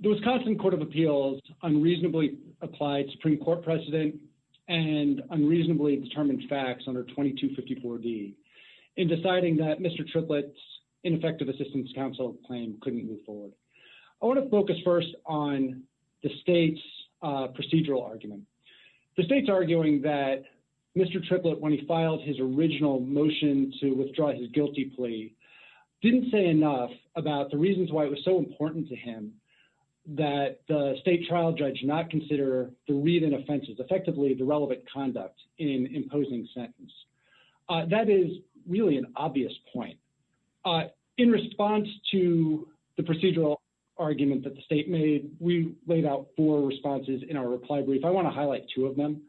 The Wisconsin Court of Appeals unreasonably applied Supreme Court precedent and unreasonably determined facts under 2254 D. In deciding that Mr. Triplett's ineffective assistance counsel claim couldn't move forward. I want to focus first on the state's procedural argument. The state's arguing that Mr. Triplett, when he filed his original motion to withdraw his guilty plea, didn't say enough about the reasons why it was so important to him that the state trial judge not consider the read-in offenses, effectively the relevant conduct, in imposing sentence. That is really an obvious point. In response to the procedural argument that the state made, we laid out four responses in our reply brief. I want to highlight two of them.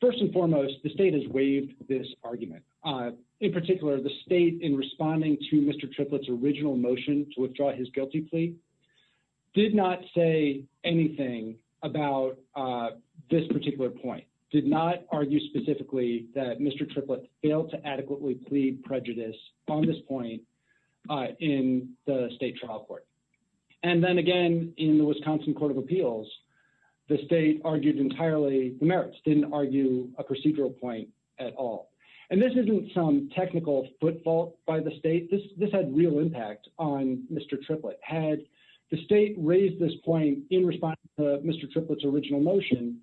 First and foremost, the state has waived this argument. In particular, the state, in responding to Mr. Triplett's original motion to withdraw his guilty plea, did not say anything about this particular point, did not argue specifically that Mr. Triplett failed to adequately plead prejudice on this point in the state trial court. And then again, in the Wisconsin Court of Appeals, the state argued entirely the merits, didn't argue a procedural point at all. And this isn't some technical footfall by the state. This had real impact on Mr. Triplett. Had the state raised this point in response to Mr. Triplett's original motion,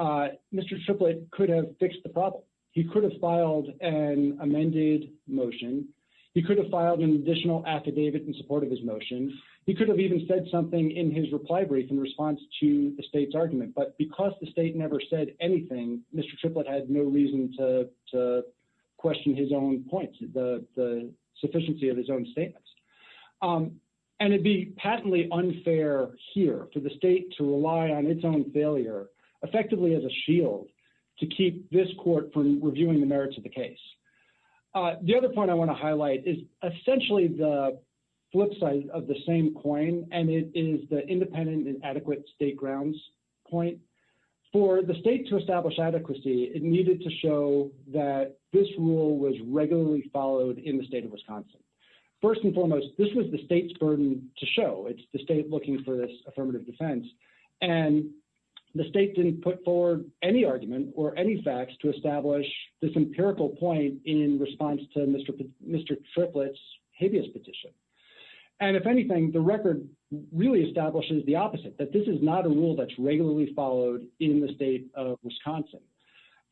Mr. Triplett could have fixed the problem. He could have filed an amended motion. He could have filed an additional affidavit in support of his motion. He could have even said something in his reply brief in response to the state's argument. But because the state never said anything, Mr. Triplett had no reason to question his own points, the sufficiency of his own statements. And it'd be patently unfair here for the state to rely on its own failure effectively as a shield to keep this court from reviewing the merits of the case. The other point I want to highlight is essentially the flip side of the same coin, and it is the independent and adequate state grounds point. For the state to establish adequacy, it needed to show that this rule was regularly followed in the state of Wisconsin. First and foremost, this was the state's burden to show. It's the state looking for this affirmative defense. And the state didn't put forward any argument or any facts to establish this empirical point in response to Mr. Triplett's habeas petition. And if anything, the record really establishes the opposite, that this is not a rule that's regularly followed in the state of Wisconsin.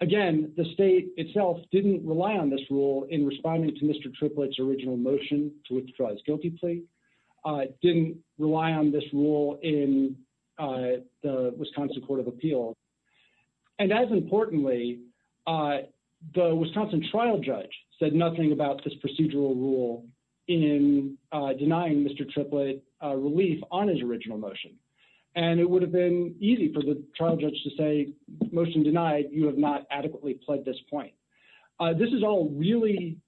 Again, the state itself didn't rely on this rule in responding to Mr. Triplett's original motion to withdraw his guilty plea, didn't rely on this rule in the Wisconsin Court of Appeals. And as importantly, the Wisconsin trial judge said nothing about this procedural rule in denying Mr. Triplett relief on his original motion. And it would have been easy for the trial judge to say, motion denied, you have not adequately pled this point. This is all really,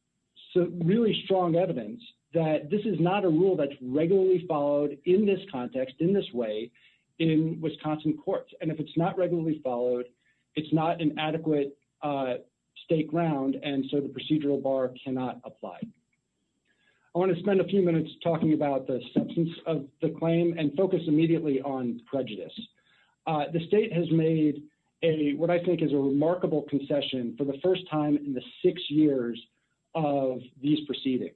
really strong evidence that this is not a rule that's regularly followed in this context, in this way, in Wisconsin courts. And if it's not regularly followed, it's not an adequate state ground, and so the procedural bar cannot apply. I want to spend a few minutes talking about the substance of the claim and focus immediately on prejudice. The state has made what I think is a remarkable concession for the first time in the six years of these proceedings.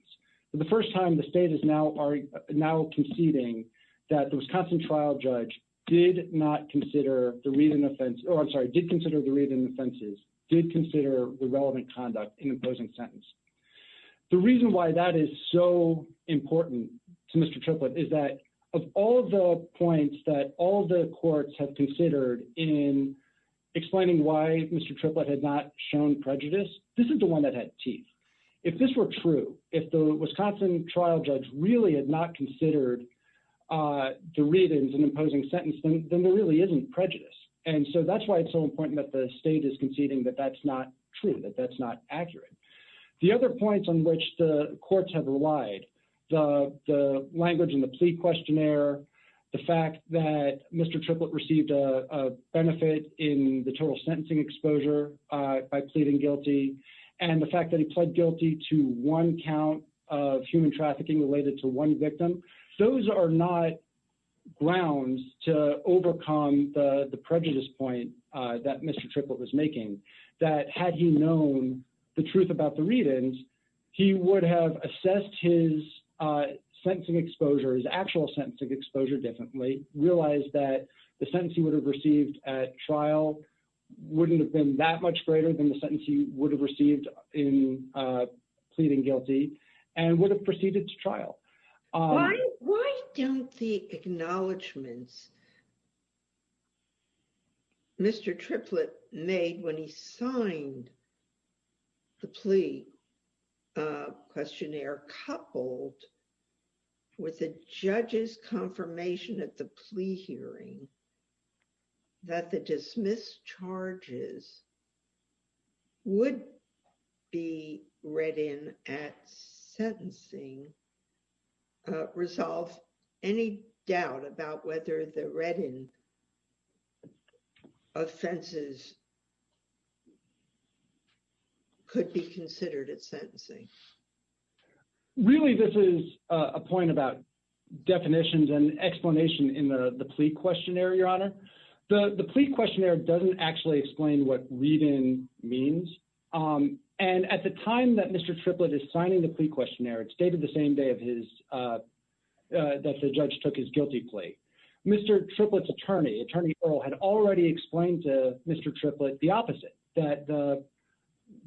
The first time the state is now conceding that the Wisconsin trial judge did not consider the read-in offense, or I'm sorry, did consider the read-in offenses, did consider the relevant conduct in the opposing sentence. The reason why that is so important to Mr. Triplett is that of all the points that all the courts have considered in explaining why Mr. Triplett had not shown prejudice, this is the one that had teeth. If this were true, if the Wisconsin trial judge really had not considered the read-ins in the opposing sentence, then there really isn't prejudice. And so that's why it's so important that the state is conceding that that's not true, that that's not accurate. The other points on which the courts have relied, the language in the plea questionnaire, the fact that Mr. Triplett received a benefit in the total sentencing exposure by pleading guilty, and the fact that he pled guilty to one count of human trafficking related to one victim, those are not grounds to overcome the prejudice point that Mr. Triplett was making, that had he known the truth about the read-ins, he would have assessed his sentencing exposure, his actual sentencing exposure differently, realized that the sentence he would have received at trial wouldn't have been that much greater than the sentence he would have received in pleading guilty, and would have proceeded to trial. Why don't the acknowledgments Mr. Triplett made when he signed the plea questionnaire coupled with the judge's confirmation at the plea hearing that the dismissed charges would be read in at sentencing, resolve any doubt about whether the read-in offenses could be considered at sentencing? Really, this is a point about definitions and explanation in the plea questionnaire, Your Honor. The plea questionnaire doesn't actually explain what read-in means, and at the time that Mr. Triplett is signing the plea questionnaire, it's dated the same day that the judge took his guilty plea. Mr. Triplett's attorney, Attorney Earl, had already explained to Mr. Triplett the opposite, that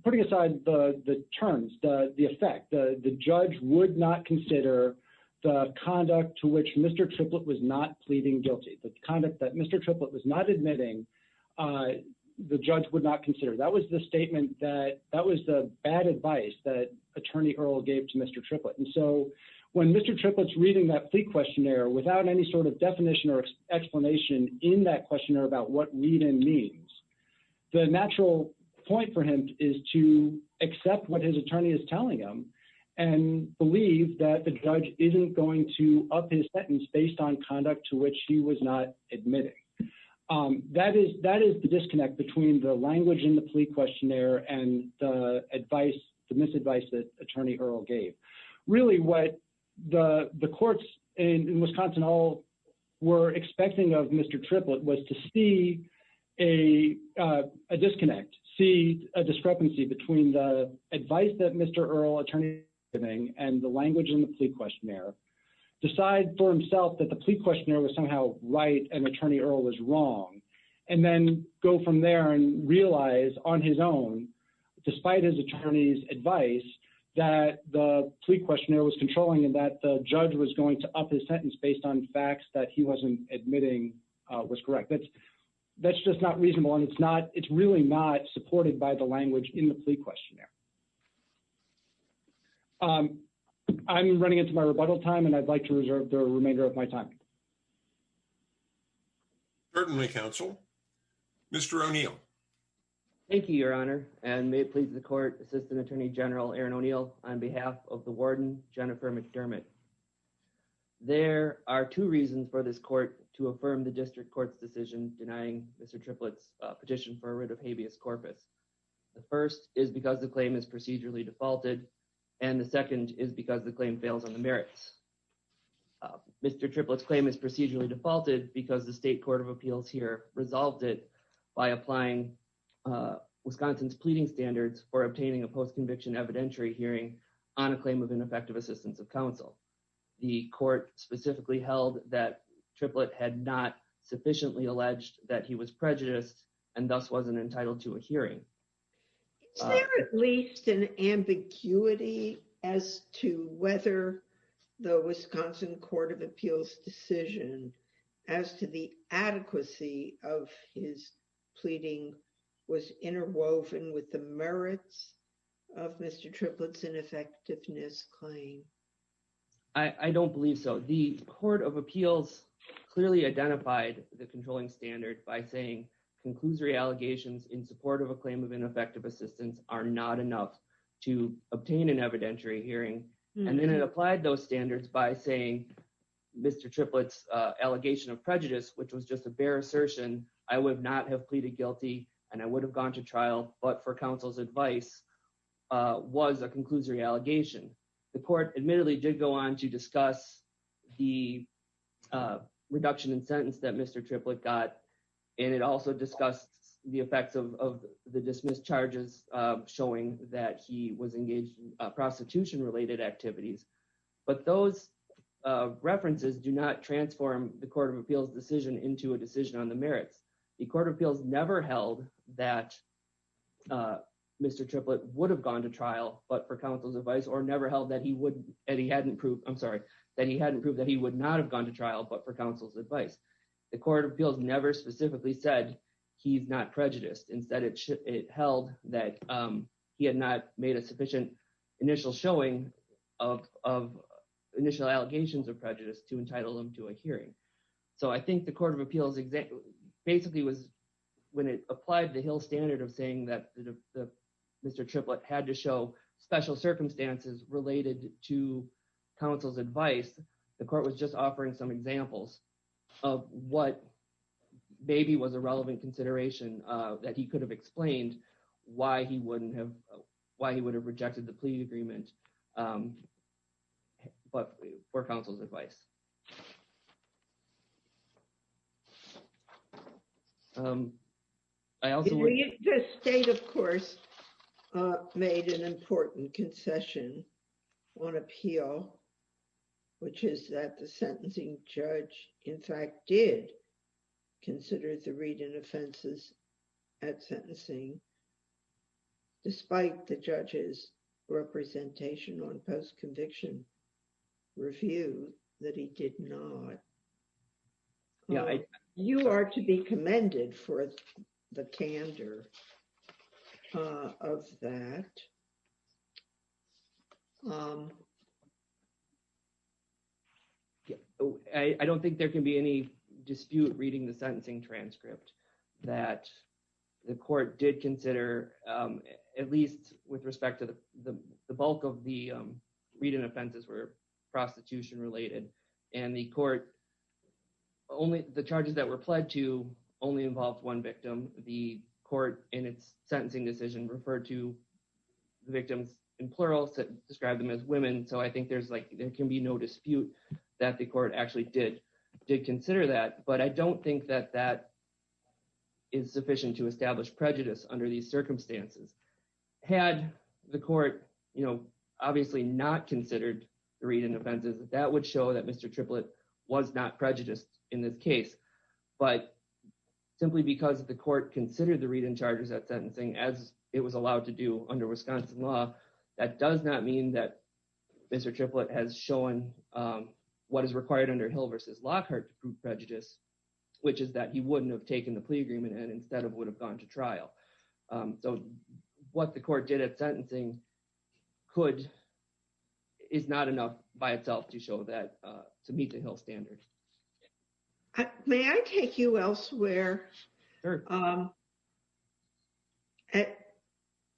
putting aside the terms, the effect, the judge would not consider the conduct to which Mr. Triplett was not pleading guilty, the conduct that Mr. Triplett was not admitting, the judge would not consider. That was the bad advice that Attorney Earl gave to Mr. Triplett, and so when Mr. Triplett's reading that plea questionnaire without any sort of definition or explanation in that questionnaire about what read-in means, the natural point for him is to accept what his attorney is telling him, and believe that the judge isn't going to up his sentence based on conduct to which he was not admitting. That is the disconnect between the language in the plea questionnaire and the advice, the misadvice that Attorney Earl gave. Really, what the courts in Wisconsin all were expecting of Mr. Triplett was to see a disconnect, see a discrepancy between the advice that Mr. Earl, attorney, was giving and the language in the plea questionnaire, decide for himself that the plea questionnaire was somehow right and Attorney Earl was wrong, and then go from there and realize on his own, despite his attorney's advice, that the plea questionnaire was controlling and that the judge was going to up his sentence based on facts that he wasn't admitting was correct. That's just not reasonable, and it's really not supported by the language in the plea questionnaire. I'm running into my rebuttal time, and I'd like to reserve the remainder of my time. Certainly, counsel. Mr. O'Neill. Thank you, Your Honor, and may it please the court, Assistant Attorney General Aaron O'Neill, on behalf of the warden, Jennifer McDermott. There are two reasons for this court to affirm the district court's decision denying Mr. Triplett's petition for a writ of habeas corpus. The first is because the claim is procedurally defaulted, and the second is because the claim fails on the merits. Mr. Triplett's claim is procedurally defaulted because the state court of appeals here resolved it by applying Wisconsin's pleading standards for obtaining a post conviction evidentiary hearing on a claim of ineffective assistance of counsel. The court specifically held that Triplett had not sufficiently alleged that he was prejudiced and thus wasn't entitled to a hearing. Is there at least an ambiguity as to whether the Wisconsin Court of Appeals decision as to the adequacy of his pleading was interwoven with the merits of Mr. Triplett's ineffectiveness claim? I don't believe so. The court of appeals clearly identified the controlling standard by saying conclusory allegations in support of a claim of ineffective assistance are not enough to obtain an evidentiary hearing. And then it applied those standards by saying Mr. Triplett's allegation of prejudice, which was just a bare assertion, I would not have pleaded guilty and I would have gone to trial, but for counsel's advice, was a conclusory allegation. The court admittedly did go on to discuss the reduction in sentence that Mr. Triplett got. And it also discussed the effects of the dismissed charges showing that he was engaged in prostitution related activities. But those references do not transform the court of appeals decision into a decision on the merits. The court of appeals never held that Mr. Triplett would have gone to trial, but for counsel's advice, or never held that he hadn't proved that he would not have gone to trial, but for counsel's advice. The court of appeals never specifically said he's not prejudiced. Instead, it held that he had not made a sufficient initial showing of initial allegations of prejudice to entitle him to a hearing. So I think the court of appeals basically was, when it applied the Hill standard of saying that Mr. Triplett had to show special circumstances related to counsel's advice, the court was just offering some examples of what maybe was a relevant consideration that he could have explained why he would have rejected the plea agreement for counsel's advice. The state, of course, made an important concession on appeal, which is that the sentencing judge, in fact, did consider the read and offenses at sentencing. Despite the judge's representation on post-conviction review, that he did not. You are to be commended for the candor of that. I don't think there can be any dispute reading the sentencing transcript that the court did consider, at least with respect to the bulk of the read and offenses were prostitution related. And the court, the charges that were pledged to only involved one victim, the court in its sentencing decision referred to the victims in plural, described them as women. So I think there can be no dispute that the court actually did consider that. But I don't think that that is sufficient to establish prejudice under these circumstances. Had the court, you know, obviously not considered the read and offenses, that would show that Mr. Triplett was not prejudiced in this case. But simply because the court considered the read and charges at sentencing as it was allowed to do under Wisconsin law, that does not mean that Mr. Triplett has shown what is required under Hill v. Lockhart to prove prejudice, which is that he wouldn't have taken the plea agreement and instead would have gone to trial. So what the court did at sentencing could, is not enough by itself to show that, to meet the Hill standard. May I take you elsewhere?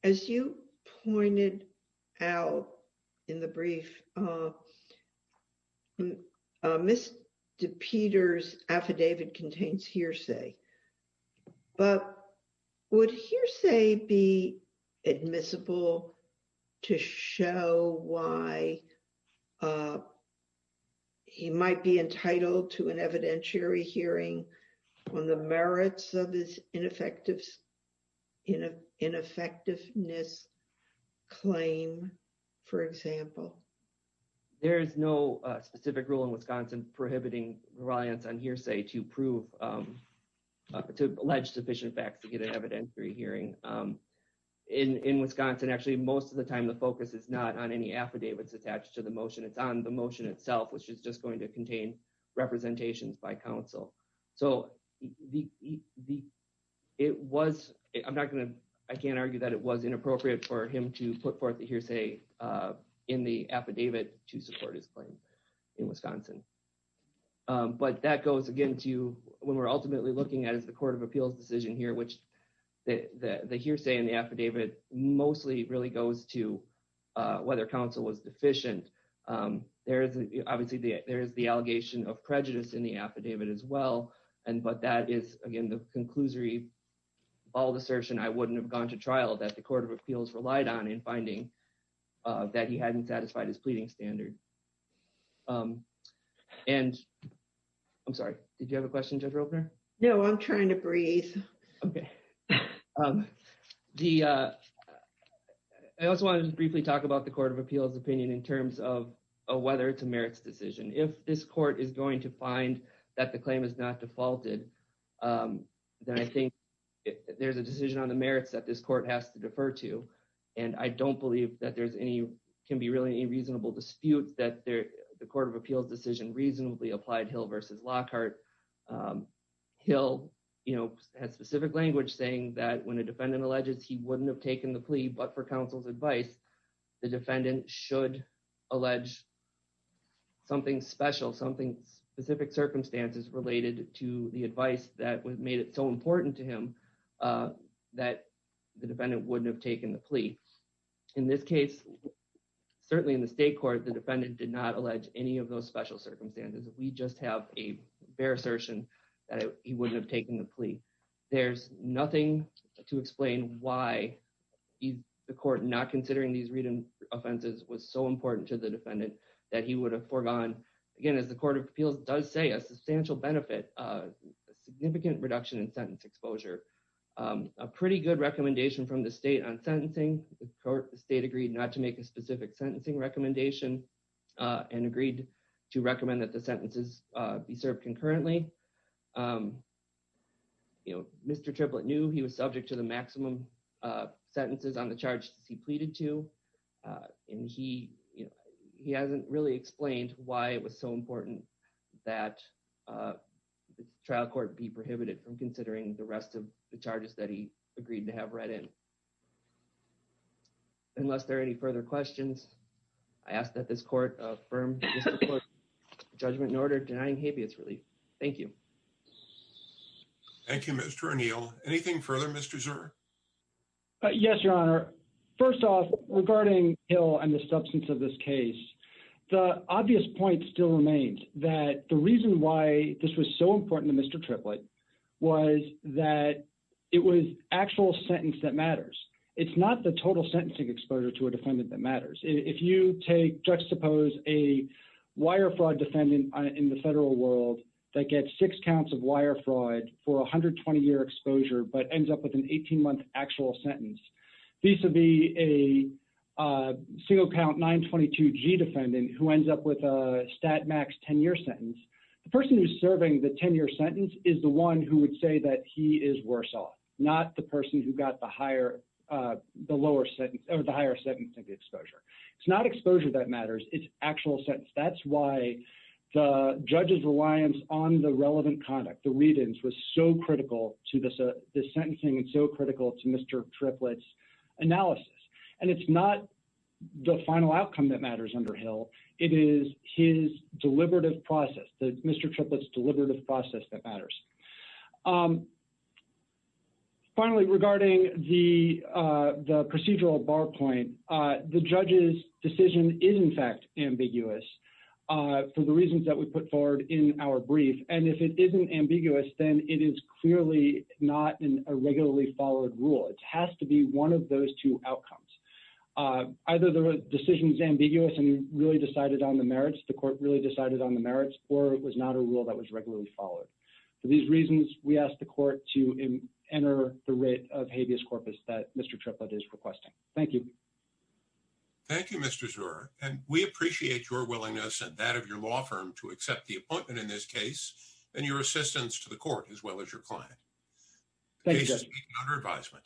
As you pointed out in the brief, Mr. Peter's affidavit contains hearsay. But would hearsay be admissible to show why he might be entitled to an evidentiary hearing on the merits of his ineffectiveness claim, for example? There is no specific rule in Wisconsin prohibiting reliance on hearsay to prove, to allege sufficient facts to get an evidentiary hearing. In Wisconsin, actually, most of the time the focus is not on any affidavits attached to the motion, it's on the motion itself, which is just going to contain representations by counsel. So it was, I'm not going to, I can't argue that it was inappropriate for him to put forth the hearsay in the affidavit to support his claim in Wisconsin. But that goes again to when we're ultimately looking at is the Court of Appeals decision here, which the hearsay in the affidavit mostly really goes to whether counsel was deficient. There is, obviously, there is the allegation of prejudice in the affidavit as well. And, but that is, again, the conclusory, bald assertion, I wouldn't have gone to trial that the Court of Appeals relied on in finding that he hadn't satisfied his pleading standard. And, I'm sorry, did you have a question, Judge Ropener? No, I'm trying to breathe. Okay. I also wanted to briefly talk about the Court of Appeals opinion in terms of whether it's a merits decision. If this court is going to find that the claim is not defaulted, then I think there's a decision on the merits that this court has to defer to. And I don't believe that there's any, can be really a reasonable dispute that the Court of Appeals decision reasonably applied Hill versus Lockhart. Hill, you know, has specific language saying that when a defendant alleges he wouldn't have taken the plea, but for counsel's advice, the defendant should allege something special, something specific circumstances related to the advice that made it so important to him that the defendant wouldn't have taken the plea. In this case, certainly in the state court, the defendant did not allege any of those special circumstances. We just have a bare assertion that he wouldn't have taken the plea. There's nothing to explain why the court not considering these written offenses was so important to the defendant that he would have foregone, again, as the Court of Appeals does say, a substantial benefit, a significant reduction in sentence exposure. A pretty good recommendation from the state on sentencing. The state agreed not to make a specific sentencing recommendation and agreed to recommend that the sentences be served concurrently. You know, Mr. Triplett knew he was subject to the maximum sentences on the charges he pleaded to, and he hasn't really explained why it was so important that the trial court be prohibited from considering the rest of the charges that he agreed to have read in. Unless there are any further questions, I ask that this court affirm Mr. Triplett's judgment in order denying habeas relief. Thank you. Thank you, Mr. O'Neill. Anything further, Mr. Zuer? Yes, Your Honor. First off, regarding Hill and the substance of this case, the obvious point still remains that the reason why this was so important to Mr. Triplett was that it was actual sentence that matters. It's not the total sentencing exposure to a defendant that matters. If you take, juxtapose, a wire fraud defendant in the federal world that gets six counts of wire fraud for 120-year exposure but ends up with an 18-month actual sentence, vis-a-vis a single-count 922G defendant who ends up with a stat max 10-year sentence, the person who's serving the 10-year sentence is the one who would say that he is worse off, not the person who got the higher sentencing exposure. It's not exposure that matters. It's actual sentence. That's why the judge's reliance on the relevant conduct, the read-ins, was so critical to this sentencing and so critical to Mr. Triplett's analysis. And it's not the final outcome that matters under Hill. It is his deliberative process, Mr. Triplett's deliberative process that matters. Finally, regarding the procedural bar point, the judge's decision is, in fact, ambiguous for the reasons that we put forward in our brief. And if it isn't ambiguous, then it is clearly not a regularly followed rule. It has to be one of those two outcomes. Either the decision is ambiguous and you really decided on the merits, the court really decided on the merits, or it was not a rule that was regularly followed. For these reasons, we ask the court to enter the writ of habeas corpus that Mr. Triplett is requesting. Thank you. Thank you, Mr. Zurer. And we appreciate your willingness and that of your law firm to accept the appointment in this case and your assistance to the court as well as your client. The case is being under advisement.